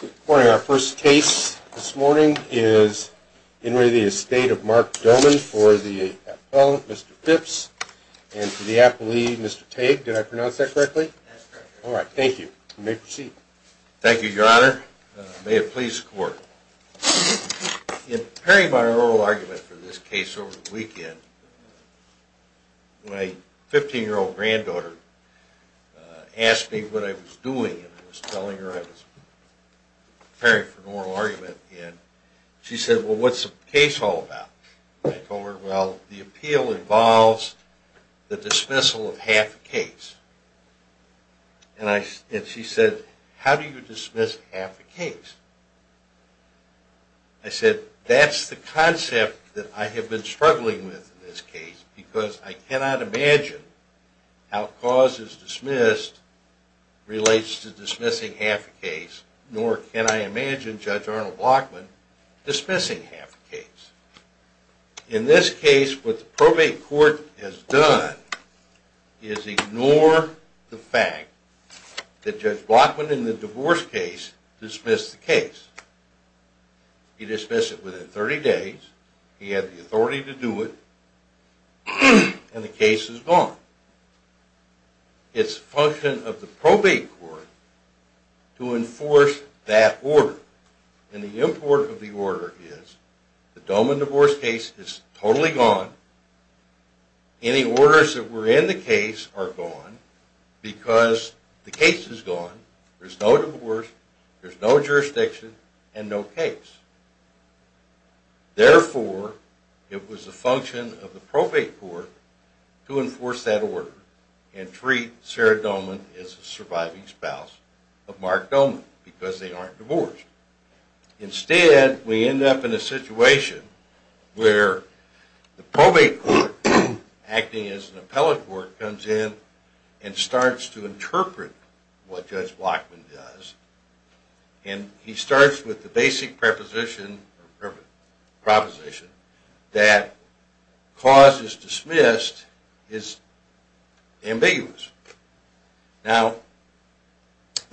Good morning. Our first case this morning is In re Estate of Mark Doman for the appellant, Mr. Phipps, and for the appellee, Mr. Tague. Did I pronounce that correctly? That's correct. All right. Thank you. You may proceed. Thank you, Your Honor. May it please the Court. In preparing my oral argument for this case over the weekend, my 15-year-old granddaughter asked me what I was doing, and I was telling her I was preparing for an oral argument, and she said, Well, what's the case all about? I told her, Well, the appeal involves the dismissal of half a case. And she said, How do you dismiss half a case? I said, That's the concept that I have been struggling with in this case, because I cannot imagine how cause is dismissed relates to dismissing half a case, nor can I imagine Judge Arnold Blockman dismissing half a case. In this case, what the probate court has done is ignore the fact that Judge Blockman in the divorce case dismissed the case. He dismissed it within 30 days, he had the authority to do it, and the case is gone. It's the function of the probate court to enforce that order. And the import of the order is, the Doman divorce case is totally gone, any orders that were in the case are gone, because the case is gone, there's no divorce, there's no jurisdiction, and no case. Therefore, it was the function of the probate court to enforce that order and treat Sarah Doman as a surviving spouse of Mark Doman, because they aren't divorced. Instead, we end up in a situation where the probate court, acting as an appellate court, comes in and starts to interpret what Judge Blockman does, and he starts with the basic proposition that cause is dismissed is ambiguous. Now,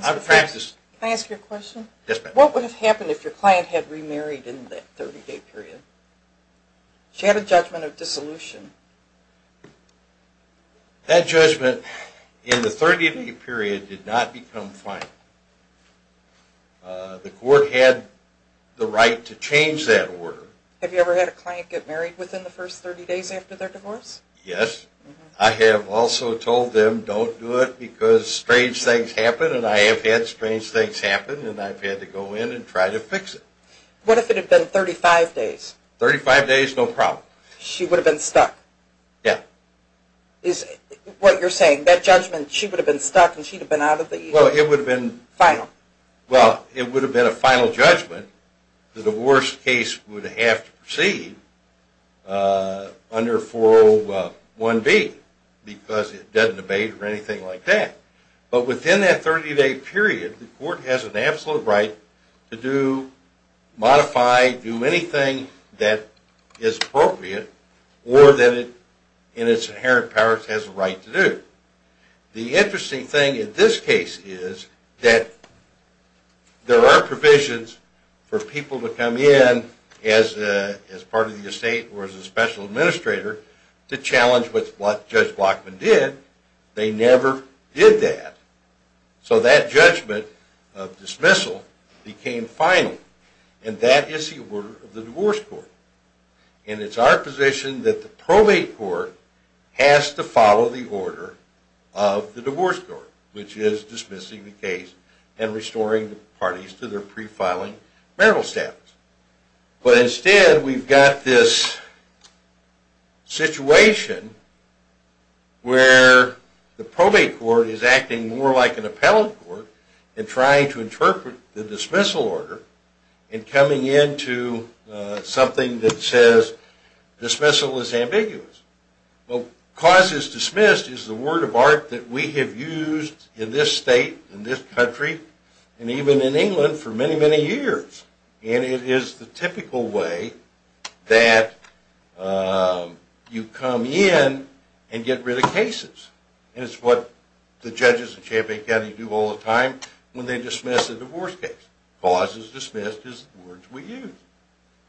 I've practiced... Can I ask you a question? Yes, ma'am. What would have happened if your client had remarried in that 30-day period? She had a judgment of dissolution. That judgment in the 30-day period did not become final. The court had the right to change that order. Have you ever had a client get married within the first 30 days after their divorce? Yes. I have also told them, don't do it, because strange things happen, and I have had strange things happen, and I've had to go in and try to fix it. What if it had been 35 days? 35 days, no problem. She would have been stuck? Yeah. Is what you're saying, that judgment, she would have been stuck and she would have been out of the... Well, it would have been... Final? Well, it would have been a final judgment. The divorce case would have to proceed under 401B, because it doesn't debate or anything like that. But within that 30-day period, the court has an absolute right to do, modify, do anything that is appropriate, or that it, in its inherent powers, has a right to do. The interesting thing in this case is that there are provisions for people to come in as part of the estate or as a special administrator to challenge what Judge Blockman did. They never did that. So that judgment of dismissal became final, and that is the order of the divorce court. And it's our position that the probate court has to follow the order of the divorce court, which is dismissing the case and restoring the parties to their pre-filing marital status. But instead, we've got this situation where the probate court is acting more like an appellate court in trying to interpret the dismissal order and coming into something that says dismissal is ambiguous. Well, cause is dismissed is the word of art that we have used in this state, in this country, and even in England for many, many years. And it is the typical way that you come in and get rid of cases. And it's what the judges in Champaign County do all the time when they dismiss a divorce case. Cause is dismissed is the words we use.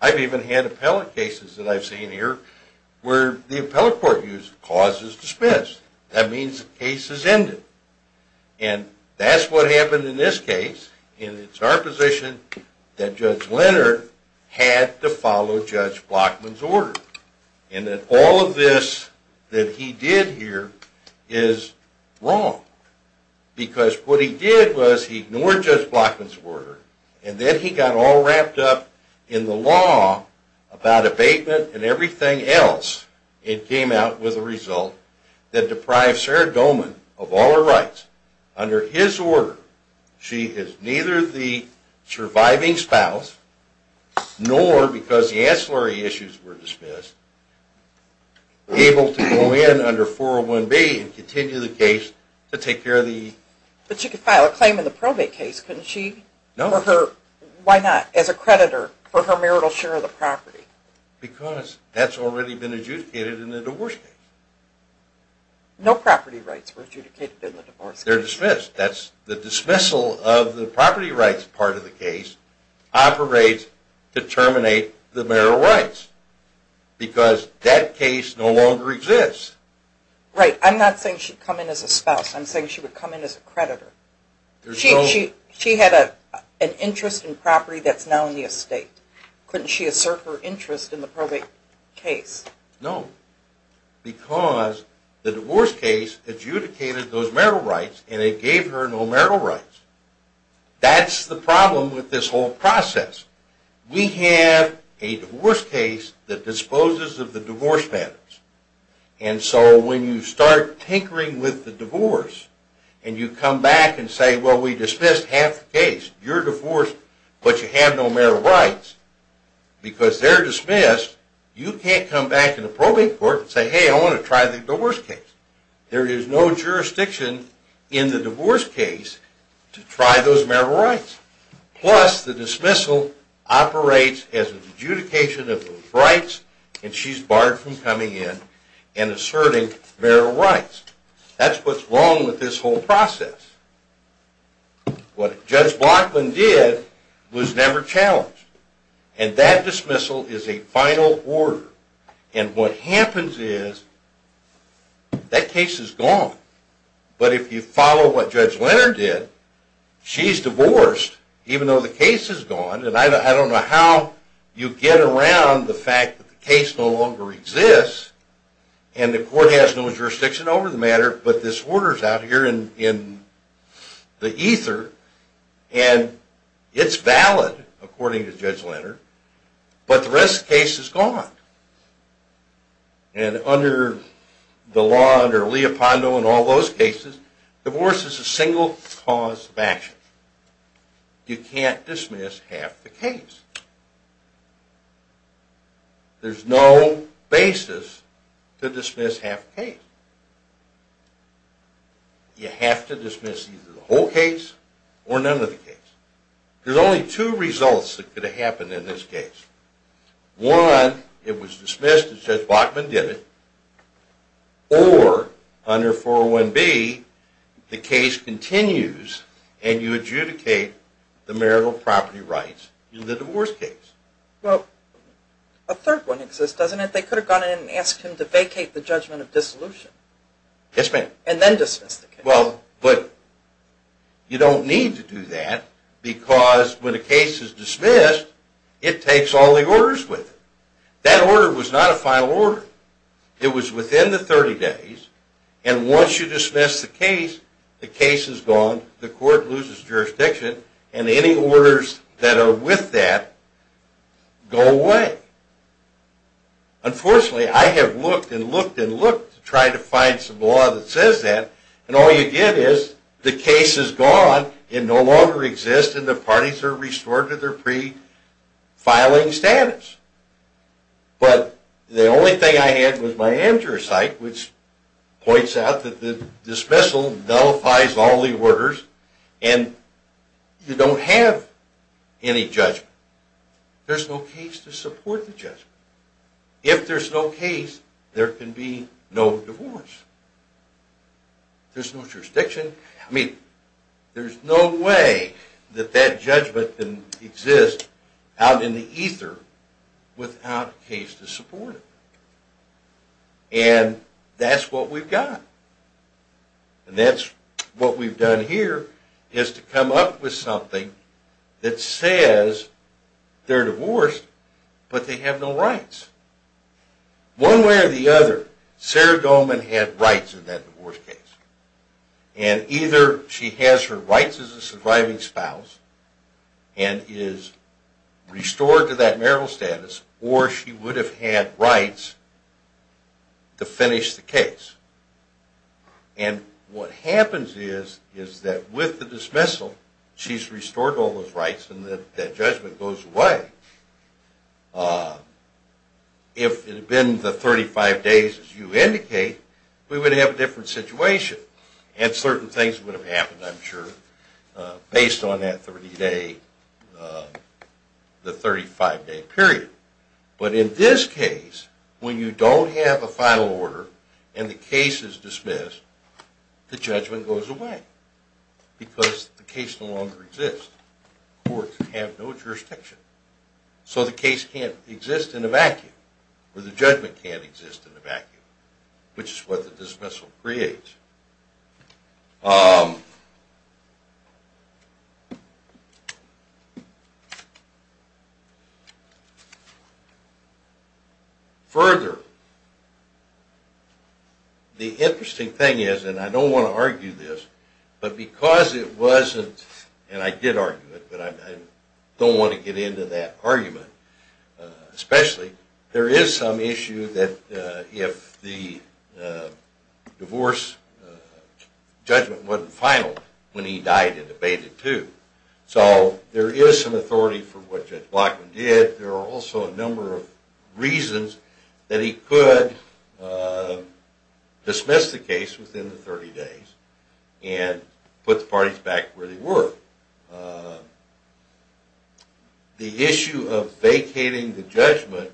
I've even had appellate cases that I've seen here where the appellate court used cause is dismissed. That means the case is ended. And that's what happened in this case, and it's our position that Judge Leonard had to follow Judge Blockman's order. And that all of this that he did here is wrong. Because what he did was he ignored Judge Blockman's order, and then he got all wrapped up in the law about abatement and everything else. It came out with a result that deprived Sarah Goldman of all her rights. Under his order, she is neither the surviving spouse, nor because the ancillary issues were dismissed, able to go in under 401B and continue the case to take care of the... But she could file a claim in the probate case, couldn't she? No. Why not? As a creditor for her marital share of the property. Because that's already been adjudicated in the divorce case. No property rights were adjudicated in the divorce case. They're dismissed. That's the dismissal of the property rights part of the case operates to terminate the marital rights. Because that case no longer exists. Right. I'm not saying she'd come in as a spouse. I'm saying she would come in as a creditor. She had an interest in property that's now in the estate. Couldn't she assert her interest in the probate case? No. Because the divorce case adjudicated those marital rights and it gave her no marital rights. That's the problem with this whole process. We have a divorce case that disposes of the divorce matters. And so when you start tinkering with the divorce and you come back and say, well, we dismissed half the case. You're divorced, but you have no marital rights. Because they're dismissed, you can't come back in the probate court and say, hey, I want to try the divorce case. There is no jurisdiction in the divorce case to try those marital rights. Plus, the dismissal operates as an adjudication of those rights and she's barred from coming in and asserting marital rights. That's what's wrong with this whole process. What Judge Blockland did was never challenged. And that dismissal is a final order. And what happens is that case is gone. But if you follow what Judge Leonard did, she's divorced, even though the case is gone. And I don't know how you get around the fact that the case no longer exists and the court has no jurisdiction over the matter, but this order is out here in the ether. And it's valid, according to Judge Leonard, but the rest of the case is gone. And under the law, under Leopondo and all those cases, divorce is a single cause of action. You can't dismiss half the case. There's no basis to dismiss half the case. You have to dismiss either the whole case or none of the case. There's only two results that could have happened in this case. One, it was dismissed as Judge Blockland did it, or under 401B, the case continues and you adjudicate the marital property rights in the divorce case. Well, a third one exists, doesn't it? They could have gone in and asked him to vacate the judgment of dissolution. Yes, ma'am. And then dismiss the case. Unfortunately, I have looked and looked and looked to try to find some law that says that, and all you get is the case is gone, it no longer exists, and the parties are restored to their pre-filing status. But the only thing I had was my AmJuror site, which points out that the dismissal nullifies all the orders, and you don't have any judgment. There's no case to support the judgment. If there's no case, there can be no divorce. There's no jurisdiction. I mean, there's no way that that judgment can exist out in the ether without a case to support it. And that's what we've got. And that's what we've done here, is to come up with something that says they're divorced, but they have no rights. One way or the other, Sarah Goldman had rights in that divorce case. And either she has her rights as a surviving spouse and is restored to that marital status, or she would have had rights to finish the case. And what happens is that with the dismissal, she's restored all those rights, and that judgment goes away. If it had been the 35 days as you indicate, we would have had a different situation, and certain things would have happened, I'm sure, based on that 30-day, the 35-day period. But in this case, when you don't have a final order and the case is dismissed, the judgment goes away, because the case no longer exists. Courts have no jurisdiction. So the case can't exist in a vacuum, or the judgment can't exist in a vacuum, which is what the dismissal creates. Further, the interesting thing is, and I don't want to argue this, but because it wasn't – and I did argue it, but I don't want to get into that argument. Especially, there is some issue that if the divorce judgment wasn't final, when he died, it abated too. So there is some authority for what Judge Blockman did. But there are also a number of reasons that he could dismiss the case within the 30 days and put the parties back where they were. The issue of vacating the judgment,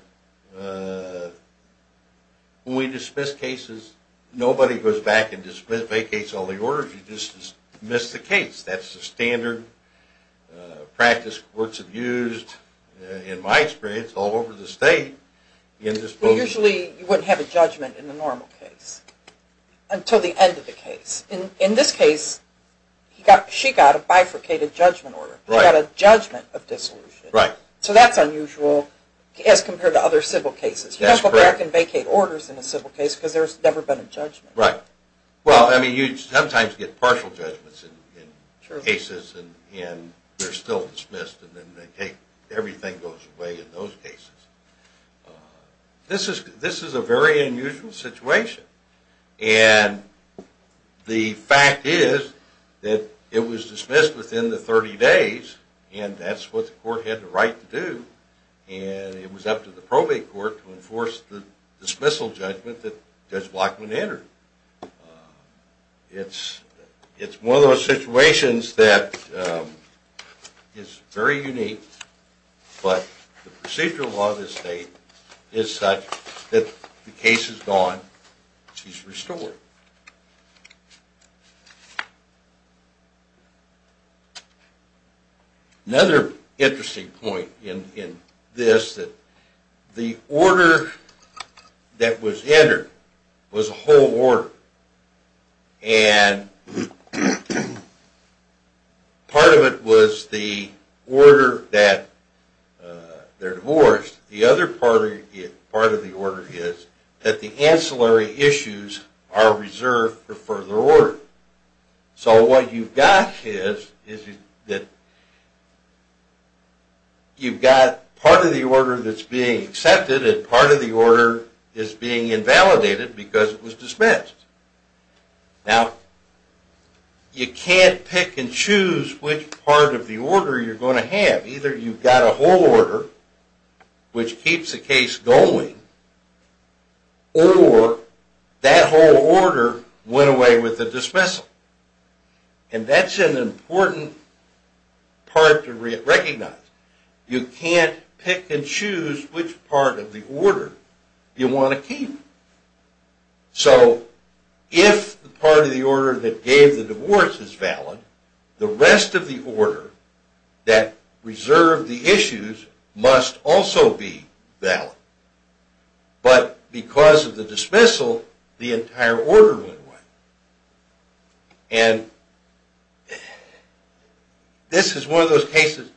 when we dismiss cases, nobody goes back and vacates all the orders, you just dismiss the case. That's the standard practice courts have used, in my experience, all over the state. Usually, you wouldn't have a judgment in a normal case, until the end of the case. In this case, she got a bifurcated judgment order. She got a judgment of dissolution. So that's unusual, as compared to other civil cases. You don't go back and vacate orders in a civil case, because there's never been a judgment. Right. Well, I mean, you sometimes get partial judgments in cases, and they're still dismissed, and then they take – everything goes away in those cases. This is a very unusual situation. And the fact is that it was dismissed within the 30 days, and that's what the court had the right to do, and it was up to the probate court to enforce the dismissal judgment that Judge Blockman entered. It's one of those situations that is very unique, but the procedural law of this state is such that the case is gone, she's restored. Another interesting point in this, that the order that was entered was a whole order. And part of it was the order that they're divorced. The other part of the order is that the ancillary issues are reserved for further order. So what you've got is that you've got part of the order that's being accepted, and part of the order is being invalidated because it was dismissed. Now, you can't pick and choose which part of the order you're going to have. Either you've got a whole order, which keeps the case going, or that whole order went away with the dismissal. And that's an important part to recognize. You can't pick and choose which part of the order you want to keep. So if the part of the order that gave the divorce is valid, the rest of the order that reserved the issues must also be valid. But because of the dismissal, the entire order went away. And this is one of those cases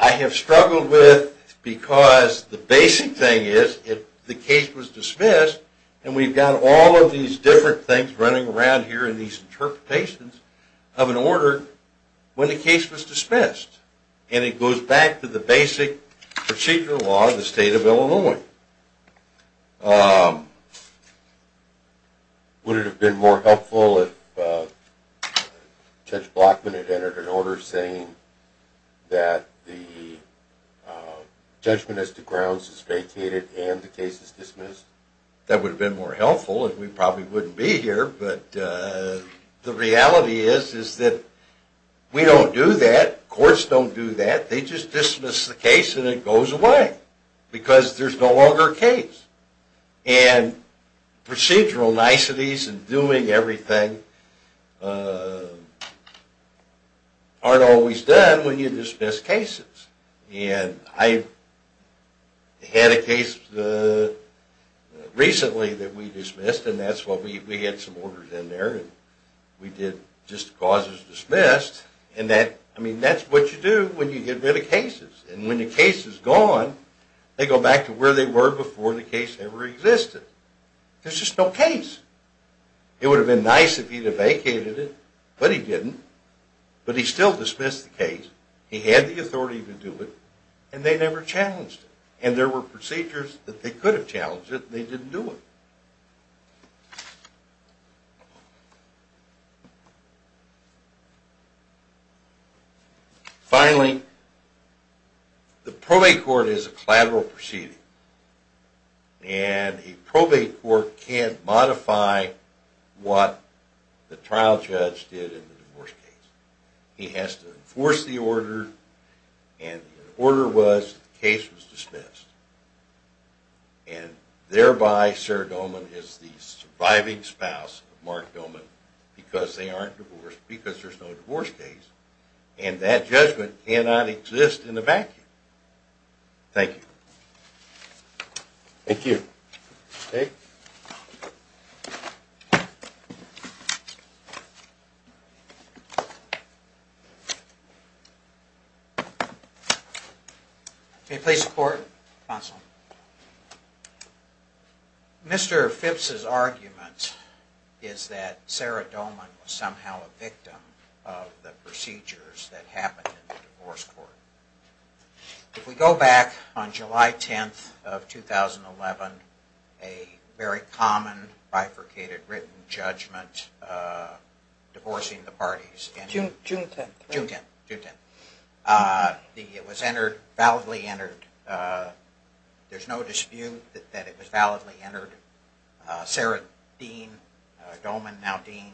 I have struggled with because the basic thing is, if the case was dismissed, and we've got all of these different things running around here in these interpretations of an order, when the case was dismissed, and it goes back to the basic procedural law of the state of Illinois, Would it have been more helpful if Judge Blockman had entered an order saying that the judgment as to grounds is vacated and the case is dismissed? That would have been more helpful, and we probably wouldn't be here, but the reality is that we don't do that. Courts don't do that. They just dismiss the case and it goes away because there's no longer a case. And procedural niceties and doing everything aren't always done when you dismiss cases. And I had a case recently that we dismissed, and we had some orders in there, and we did just the cause was dismissed, and that's what you do when you get rid of cases. And when the case is gone, they go back to where they were before the case ever existed. There's just no case. It would have been nice if he had vacated it, but he didn't. But he still dismissed the case. He had the authority to do it, and they never challenged it. And there were procedures that they could have challenged it, and they didn't do it. Finally, the probate court is a collateral proceeding, and a probate court can't modify what the trial judge did in the divorce case. He has to enforce the order, and the order was that the case was dismissed. And thereby, Sarah Doman is the surviving spouse of Mark Doman because they aren't divorced, because there's no divorce case. And that judgment cannot exist in a vacuum. Thank you. Thank you. Dave? May it please the Court? Counsel? It was entered, validly entered. There's no dispute that it was validly entered. Sarah Dean, Doman now Dean,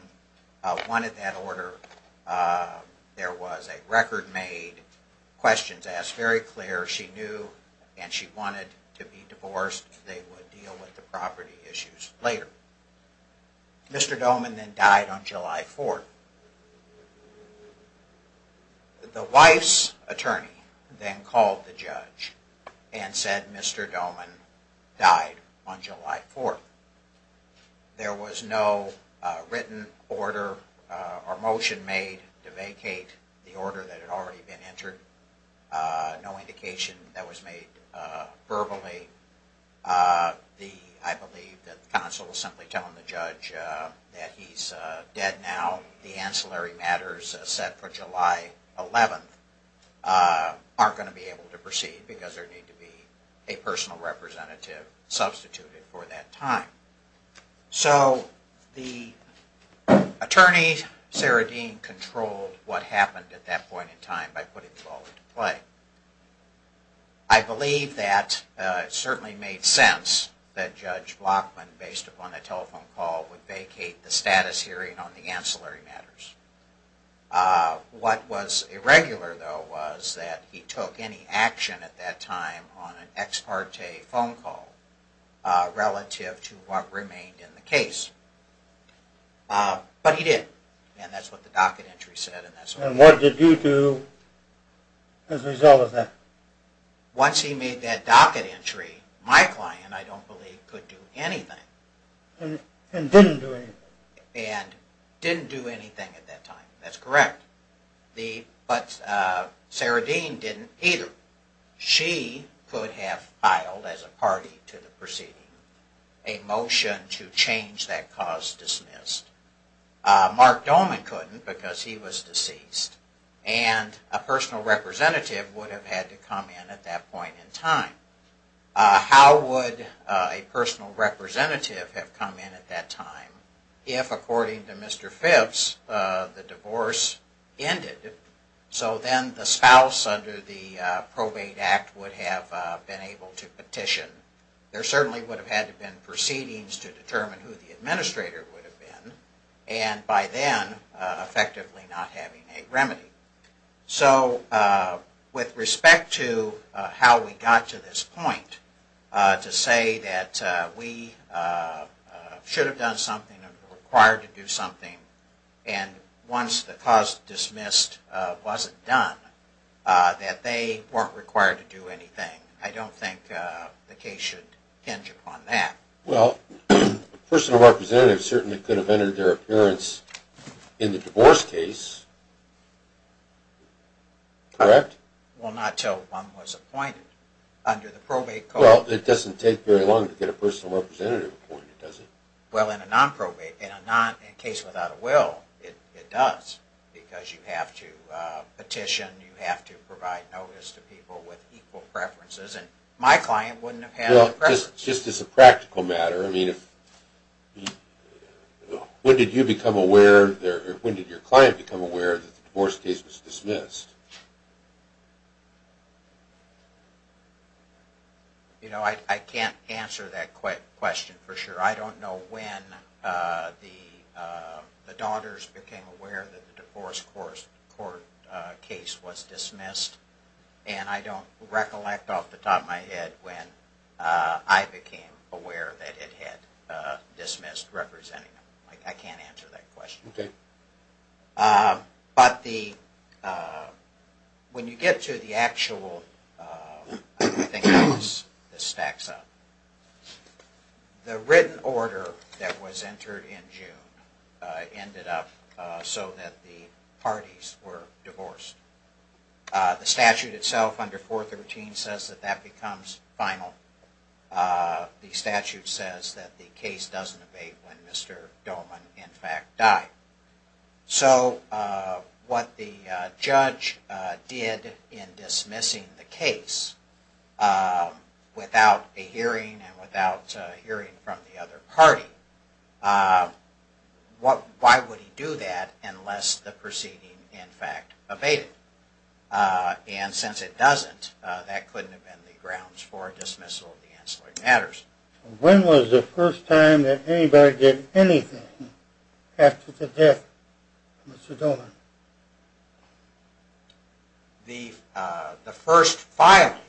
wanted that order. There was a record made, questions asked very clear. She knew, and she wanted to be divorced. They would deal with the property issues later. Mr. Doman then died on July 4th. The wife's attorney then called the judge and said Mr. Doman died on July 4th. There was no written order or motion made to vacate the order that had already been entered. No indication that was made verbally. I believe the counsel was simply telling the judge that he's dead now. The ancillary matters set for July 11th aren't going to be able to proceed because there would need to be a personal representative substituted for that time. So the attorney, Sarah Dean, controlled what happened at that point in time by putting the ball into play. I believe that it certainly made sense that Judge Blockman, based upon a telephone call, would vacate the status hearing on the ancillary matters. What was irregular, though, was that he took any action at that time on an ex parte phone call relative to what remained in the case. But he did, and that's what the docket entry said. And what did you do as a result of that? Once he made that docket entry, my client, I don't believe, could do anything. And didn't do anything? And didn't do anything at that time. That's correct. But Sarah Dean didn't either. She could have filed as a party to the proceeding a motion to change that cause dismissed. Mark Doman couldn't because he was deceased. And a personal representative would have had to come in at that point in time. How would a personal representative have come in at that time if, according to Mr. Phipps, the divorce ended? So then the spouse under the probate act would have been able to petition. There certainly would have had to have been proceedings to determine who the administrator would have been. And by then, effectively not having a remedy. So with respect to how we got to this point, to say that we should have done something and were required to do something, and once the cause dismissed wasn't done, that they weren't required to do anything, I don't think the case should hinge upon that. Well, a personal representative certainly could have entered their appearance in the divorce case, correct? Well, not until one was appointed under the probate code. Well, it doesn't take very long to get a personal representative appointed, does it? Well, in a non-probate, in a case without a will, it does. Because you have to petition, you have to provide notice to people with equal preferences, and my client wouldn't have had the preference. Just as a practical matter, when did you become aware, or when did your client become aware that the divorce case was dismissed? You know, I can't answer that question for sure. I don't know when the daughters became aware that the divorce court case was dismissed, and I don't recollect off the top of my head when I became aware that it had dismissed representing them. I can't answer that question. But when you get to the actual, I think this stacks up. The written order that was entered in June ended up so that the parties were divorced. The statute itself under 413 says that becomes final. The statute says that the case doesn't abate when Mr. Doman in fact died. So what the judge did in dismissing the case without a hearing and without hearing from the other party, why would he do that unless the proceeding in fact abated? And since it doesn't, that couldn't have been the grounds for dismissal of the ancillary matters. When was the first time that anybody did anything after the death of Mr. Doman? The first filing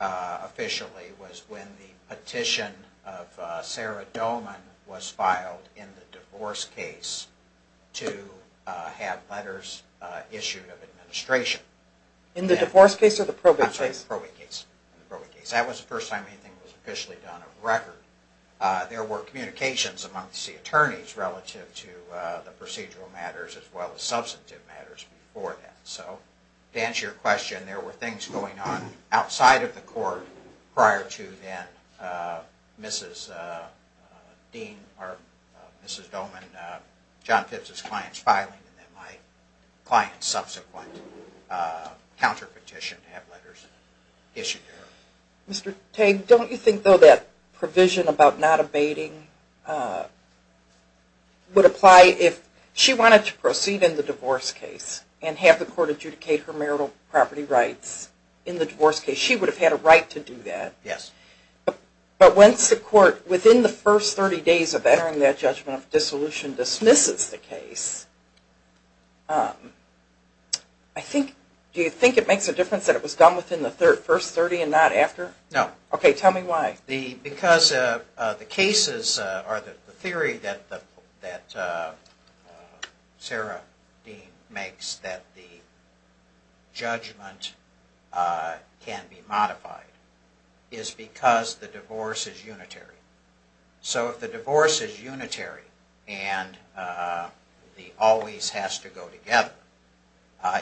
officially was when the petition of Sarah Doman was filed in the divorce case to have letters issued of administration. In the divorce case or the probate case? In the probate case. That was the first time anything was officially done of record. There were communications amongst the attorneys relative to the procedural matters as well as substantive matters before that. So to answer your question, there were things going on outside of the court prior to then Mrs. Doman, John Phipps' client's filing and then my client's subsequent counterpetition to have letters issued. Mr. Tagg, don't you think though that provision about not abating would apply if she wanted to proceed in the divorce case and have the court adjudicate her marital property rights in the divorce case? She would have had a right to do that. Yes. But once the court, within the first 30 days of entering that judgment of dissolution, dismisses the case, do you think it makes a difference that it was done within the first 30 and not after? No. Okay, tell me why. Because the cases or the theory that Sarah Dean makes that the judgment can be modified is because the divorce is unitary. So if the divorce is unitary and the always has to go together,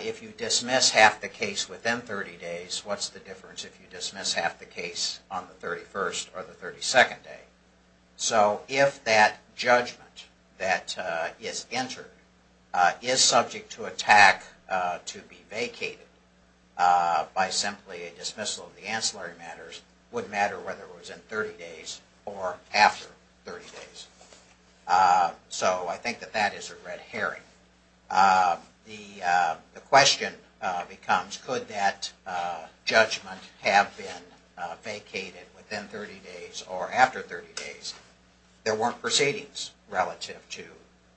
if you dismiss half the case within 30 days, what's the difference if you dismiss half the case on the 31st or the 32nd day? So if that judgment that is entered is subject to attack to be vacated by simply a dismissal of the ancillary matters, it wouldn't matter whether it was in 30 days or after 30 days. So I think that that is a red herring. The question becomes, could that judgment have been vacated within 30 days or after 30 days? There weren't proceedings relative to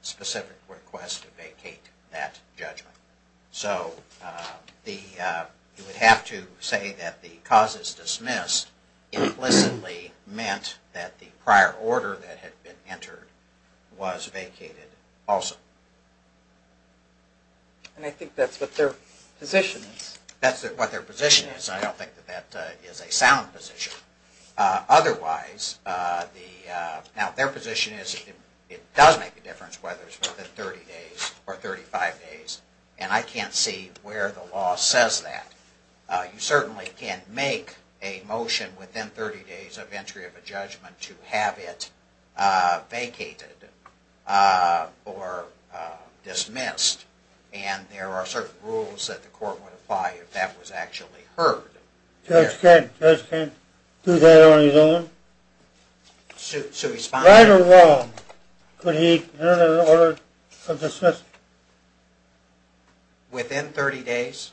specific requests to vacate that judgment. So you would have to say that the cause is dismissed implicitly meant that the prior order that had been entered was vacated also. And I think that's what their position is. That's what their position is. I don't think that that is a sound position. Otherwise, now their position is it does make a difference whether it's within 30 days or 35 days. And I can't see where the law says that. You certainly can't make a motion within 30 days of entry of a judgment to have it vacated or dismissed. And there are certain rules that the court would apply if that was actually heard. Judge can't do that on his own. Right or wrong, could he enter an order of dismissal? Within 30 days?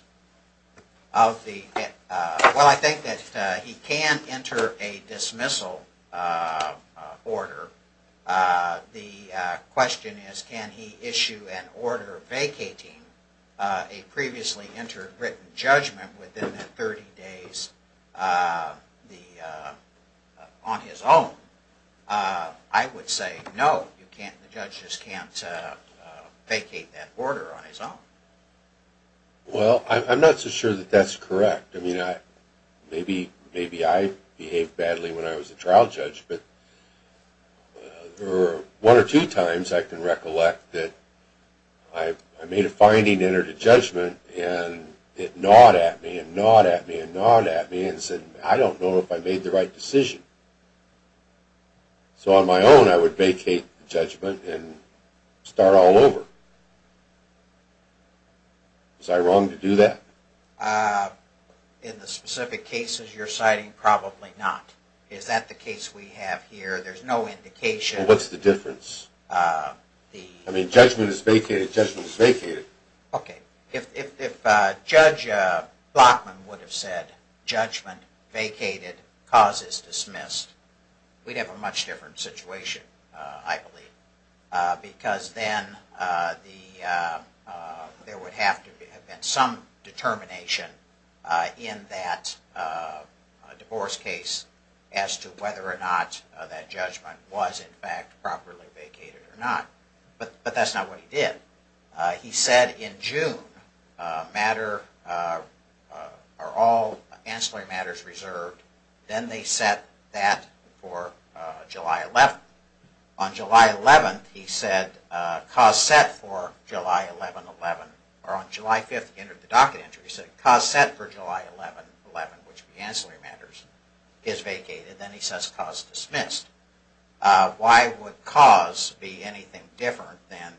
Well, I think that he can enter a dismissal order. The question is, can he issue an order vacating a previously entered written judgment within 30 days on his own? I would say no, the judge just can't vacate that order on his own. Well, I'm not so sure that that's correct. Maybe I behaved badly when I was a trial judge, but one or two times I can recollect that I made a finding and entered a judgment and it gnawed at me and gnawed at me and gnawed at me and said, I don't know if I made the right decision. So on my own, I would vacate the judgment and start all over. Was I wrong to do that? In the specific cases you're citing, probably not. Is that the case we have here? There's no indication. What's the difference? I mean, judgment is vacated, judgment is vacated. Okay, if Judge Blockman would have said, judgment vacated, cause is dismissed, we'd have a much different situation, I believe. Because then there would have to have been some determination in that divorce case as to whether or not that judgment was in fact properly vacated or not. But that's not what he did. He said in June, matter, are all ancillary matters reserved, then they set that for July 11th. On July 11th, he said cause set for July 11, 11, or on July 5th, he entered the docket entry, he said cause set for July 11, 11, which would be ancillary matters, is vacated. Then he says cause dismissed. Why would cause be anything different than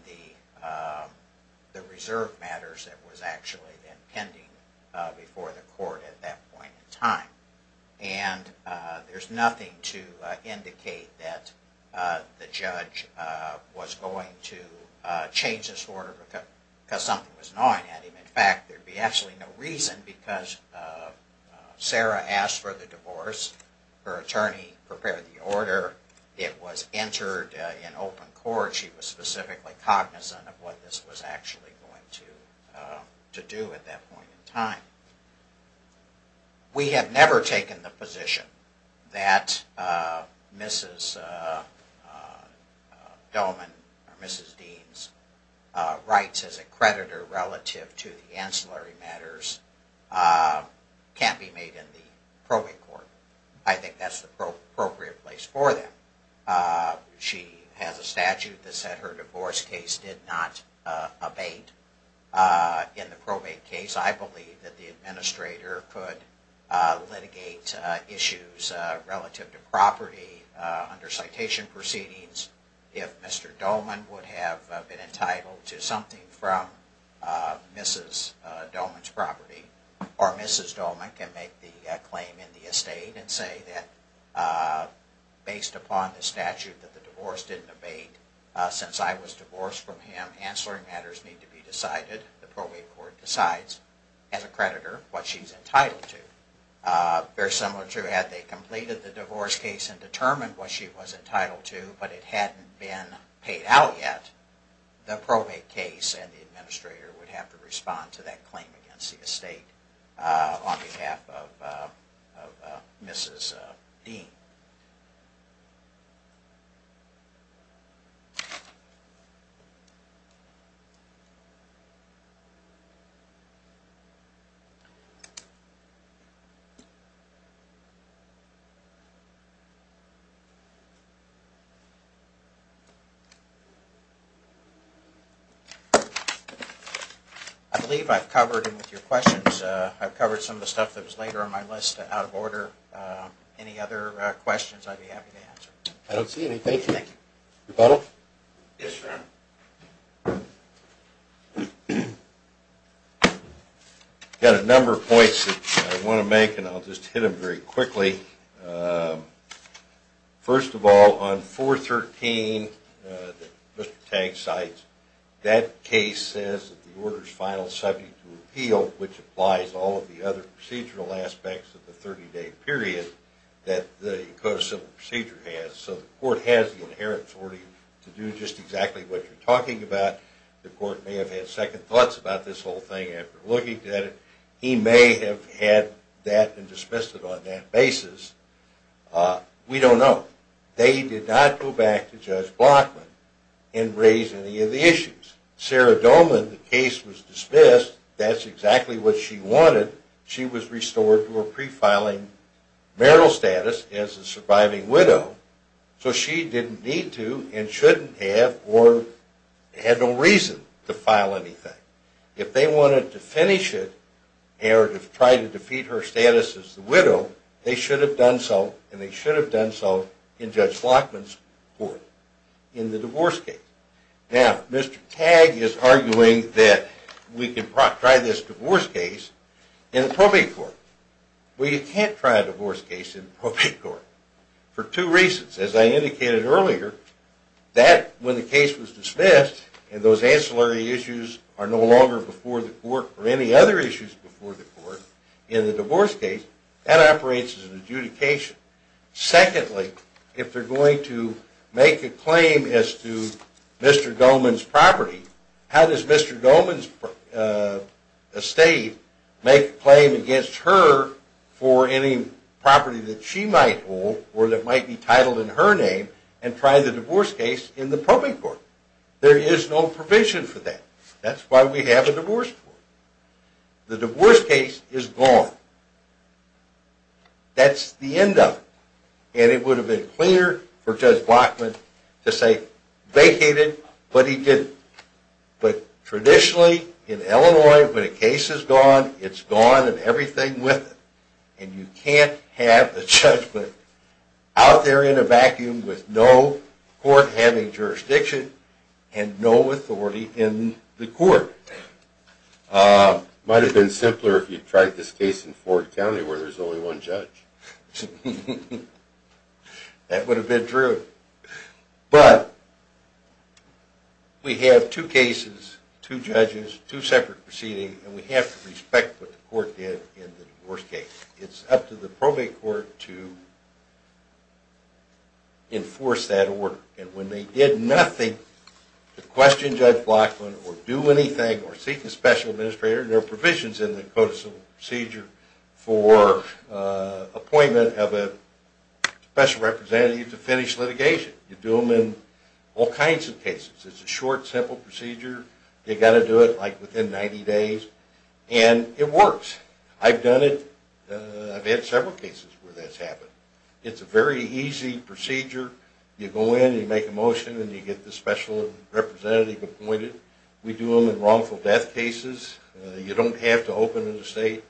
the reserve matters that was actually been pending before the court at that point in time? And there's nothing to indicate that the judge was going to change this order because something was gnawing at him. In fact, there would be absolutely no reason because Sarah asked for the divorce, her attorney prepared the order, it was entered in open court, she was specifically cognizant of what this was actually going to do at that point in time. We have never taken the position that Mrs. Doman or Mrs. Deans rights as a creditor relative to the ancillary matters can't be made in the probate court. I think that's the appropriate place for them. She has a statute that said her divorce case did not abate in the probate case. I believe that the administrator could litigate issues relative to property under citation proceedings if Mr. Doman would have been entitled to something from Mrs. Doman's property or Mrs. Doman can make the claim in the estate and say that based upon the statute that the divorce didn't abate, since I was divorced from him, ancillary matters need to be decided, the probate court decides as a creditor what she's entitled to. Very similar to had they completed the divorce case and determined what she was entitled to but it hadn't been paid out yet, the probate case and the administrator would have to respond to that claim against the estate on behalf of Mrs. Dean. I believe I've covered with your questions, I've covered some of the stuff that was later on my list out of order, any other questions I'd be happy to answer. I don't see anything. I've got a number of points that I want to make and I'll just hit them very quickly. First of all, on 413 that Mr. Tang cites, that case says that the order is final subject to appeal which applies to all of the other procedural aspects of the 30-day period that the Code of Civil Procedure has. So the court has the inherent authority to do just exactly what you're talking about. The court may have had second thoughts about this whole thing after looking at it, he may have had that and dismissed it on that basis. We don't know. They did not go back to Judge Blockman and raise any of the issues. Sarah Dolman, the case was dismissed, that's exactly what she wanted, she was restored to her pre-filing marital status as a surviving widow. So she didn't need to and shouldn't have or had no reason to file anything. If they wanted to finish it or to try to defeat her status as a widow, they should have done so and they should have done so in Judge Blockman's court in the divorce case. Now, Mr. Tang is arguing that we can try this divorce case in the probate court. Well, you can't try a divorce case in the probate court for two reasons. As I indicated earlier, that when the case was dismissed and those ancillary issues are no longer before the court or any other issues before the court in the divorce case, that operates as an adjudication. Secondly, if they're going to make a claim as to Mr. Dolman's property, how does Mr. Dolman's estate make a claim against her for any property that she might hold or that might be titled in her name and try the divorce case in the probate court? There is no provision for that. That's why we have a divorce court. The divorce case is gone. That's the end of it. And it would have been cleaner for Judge Blockman to say, vacated, but he didn't. But traditionally, in Illinois, when a case is gone, it's gone and everything with it. And you can't have a judgment out there in a vacuum with no court having jurisdiction and no authority in the court. Might have been simpler if you tried this case in Ford County where there's only one judge. That would have been true. But we have two cases, two judges, two separate proceedings, and we have to respect what the court did in the divorce case. It's up to the probate court to enforce that order. And when they did nothing to question Judge Blockman or do anything or seek a special administrator, there are provisions in the codicil procedure for appointment of a special representative to finish litigation. You do them in all kinds of cases. It's a short, simple procedure. They've got to do it, like, within 90 days. And it works. I've done it. I've had several cases where that's happened. It's a very easy procedure. You go in, you make a motion, and you get the special representative appointed. We do them in wrongful death cases. You don't have to open an estate.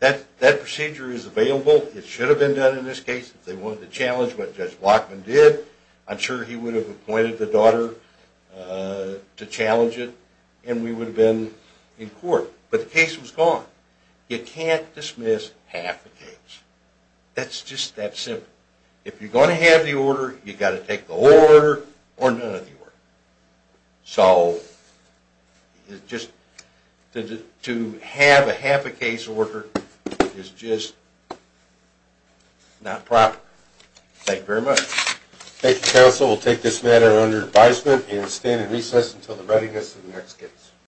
That procedure is available. It should have been done in this case if they wanted to challenge what Judge Blockman did. I'm sure he would have appointed the daughter to challenge it, and we would have been in court. But the case was gone. You can't dismiss half the case. That's just that simple. If you're going to have the order, you've got to take the whole order or none of the order. So just to have a half a case order is just not proper. Thank you very much. Thank you, counsel. We'll take this matter under advisement and stand in recess until the readiness of the next case.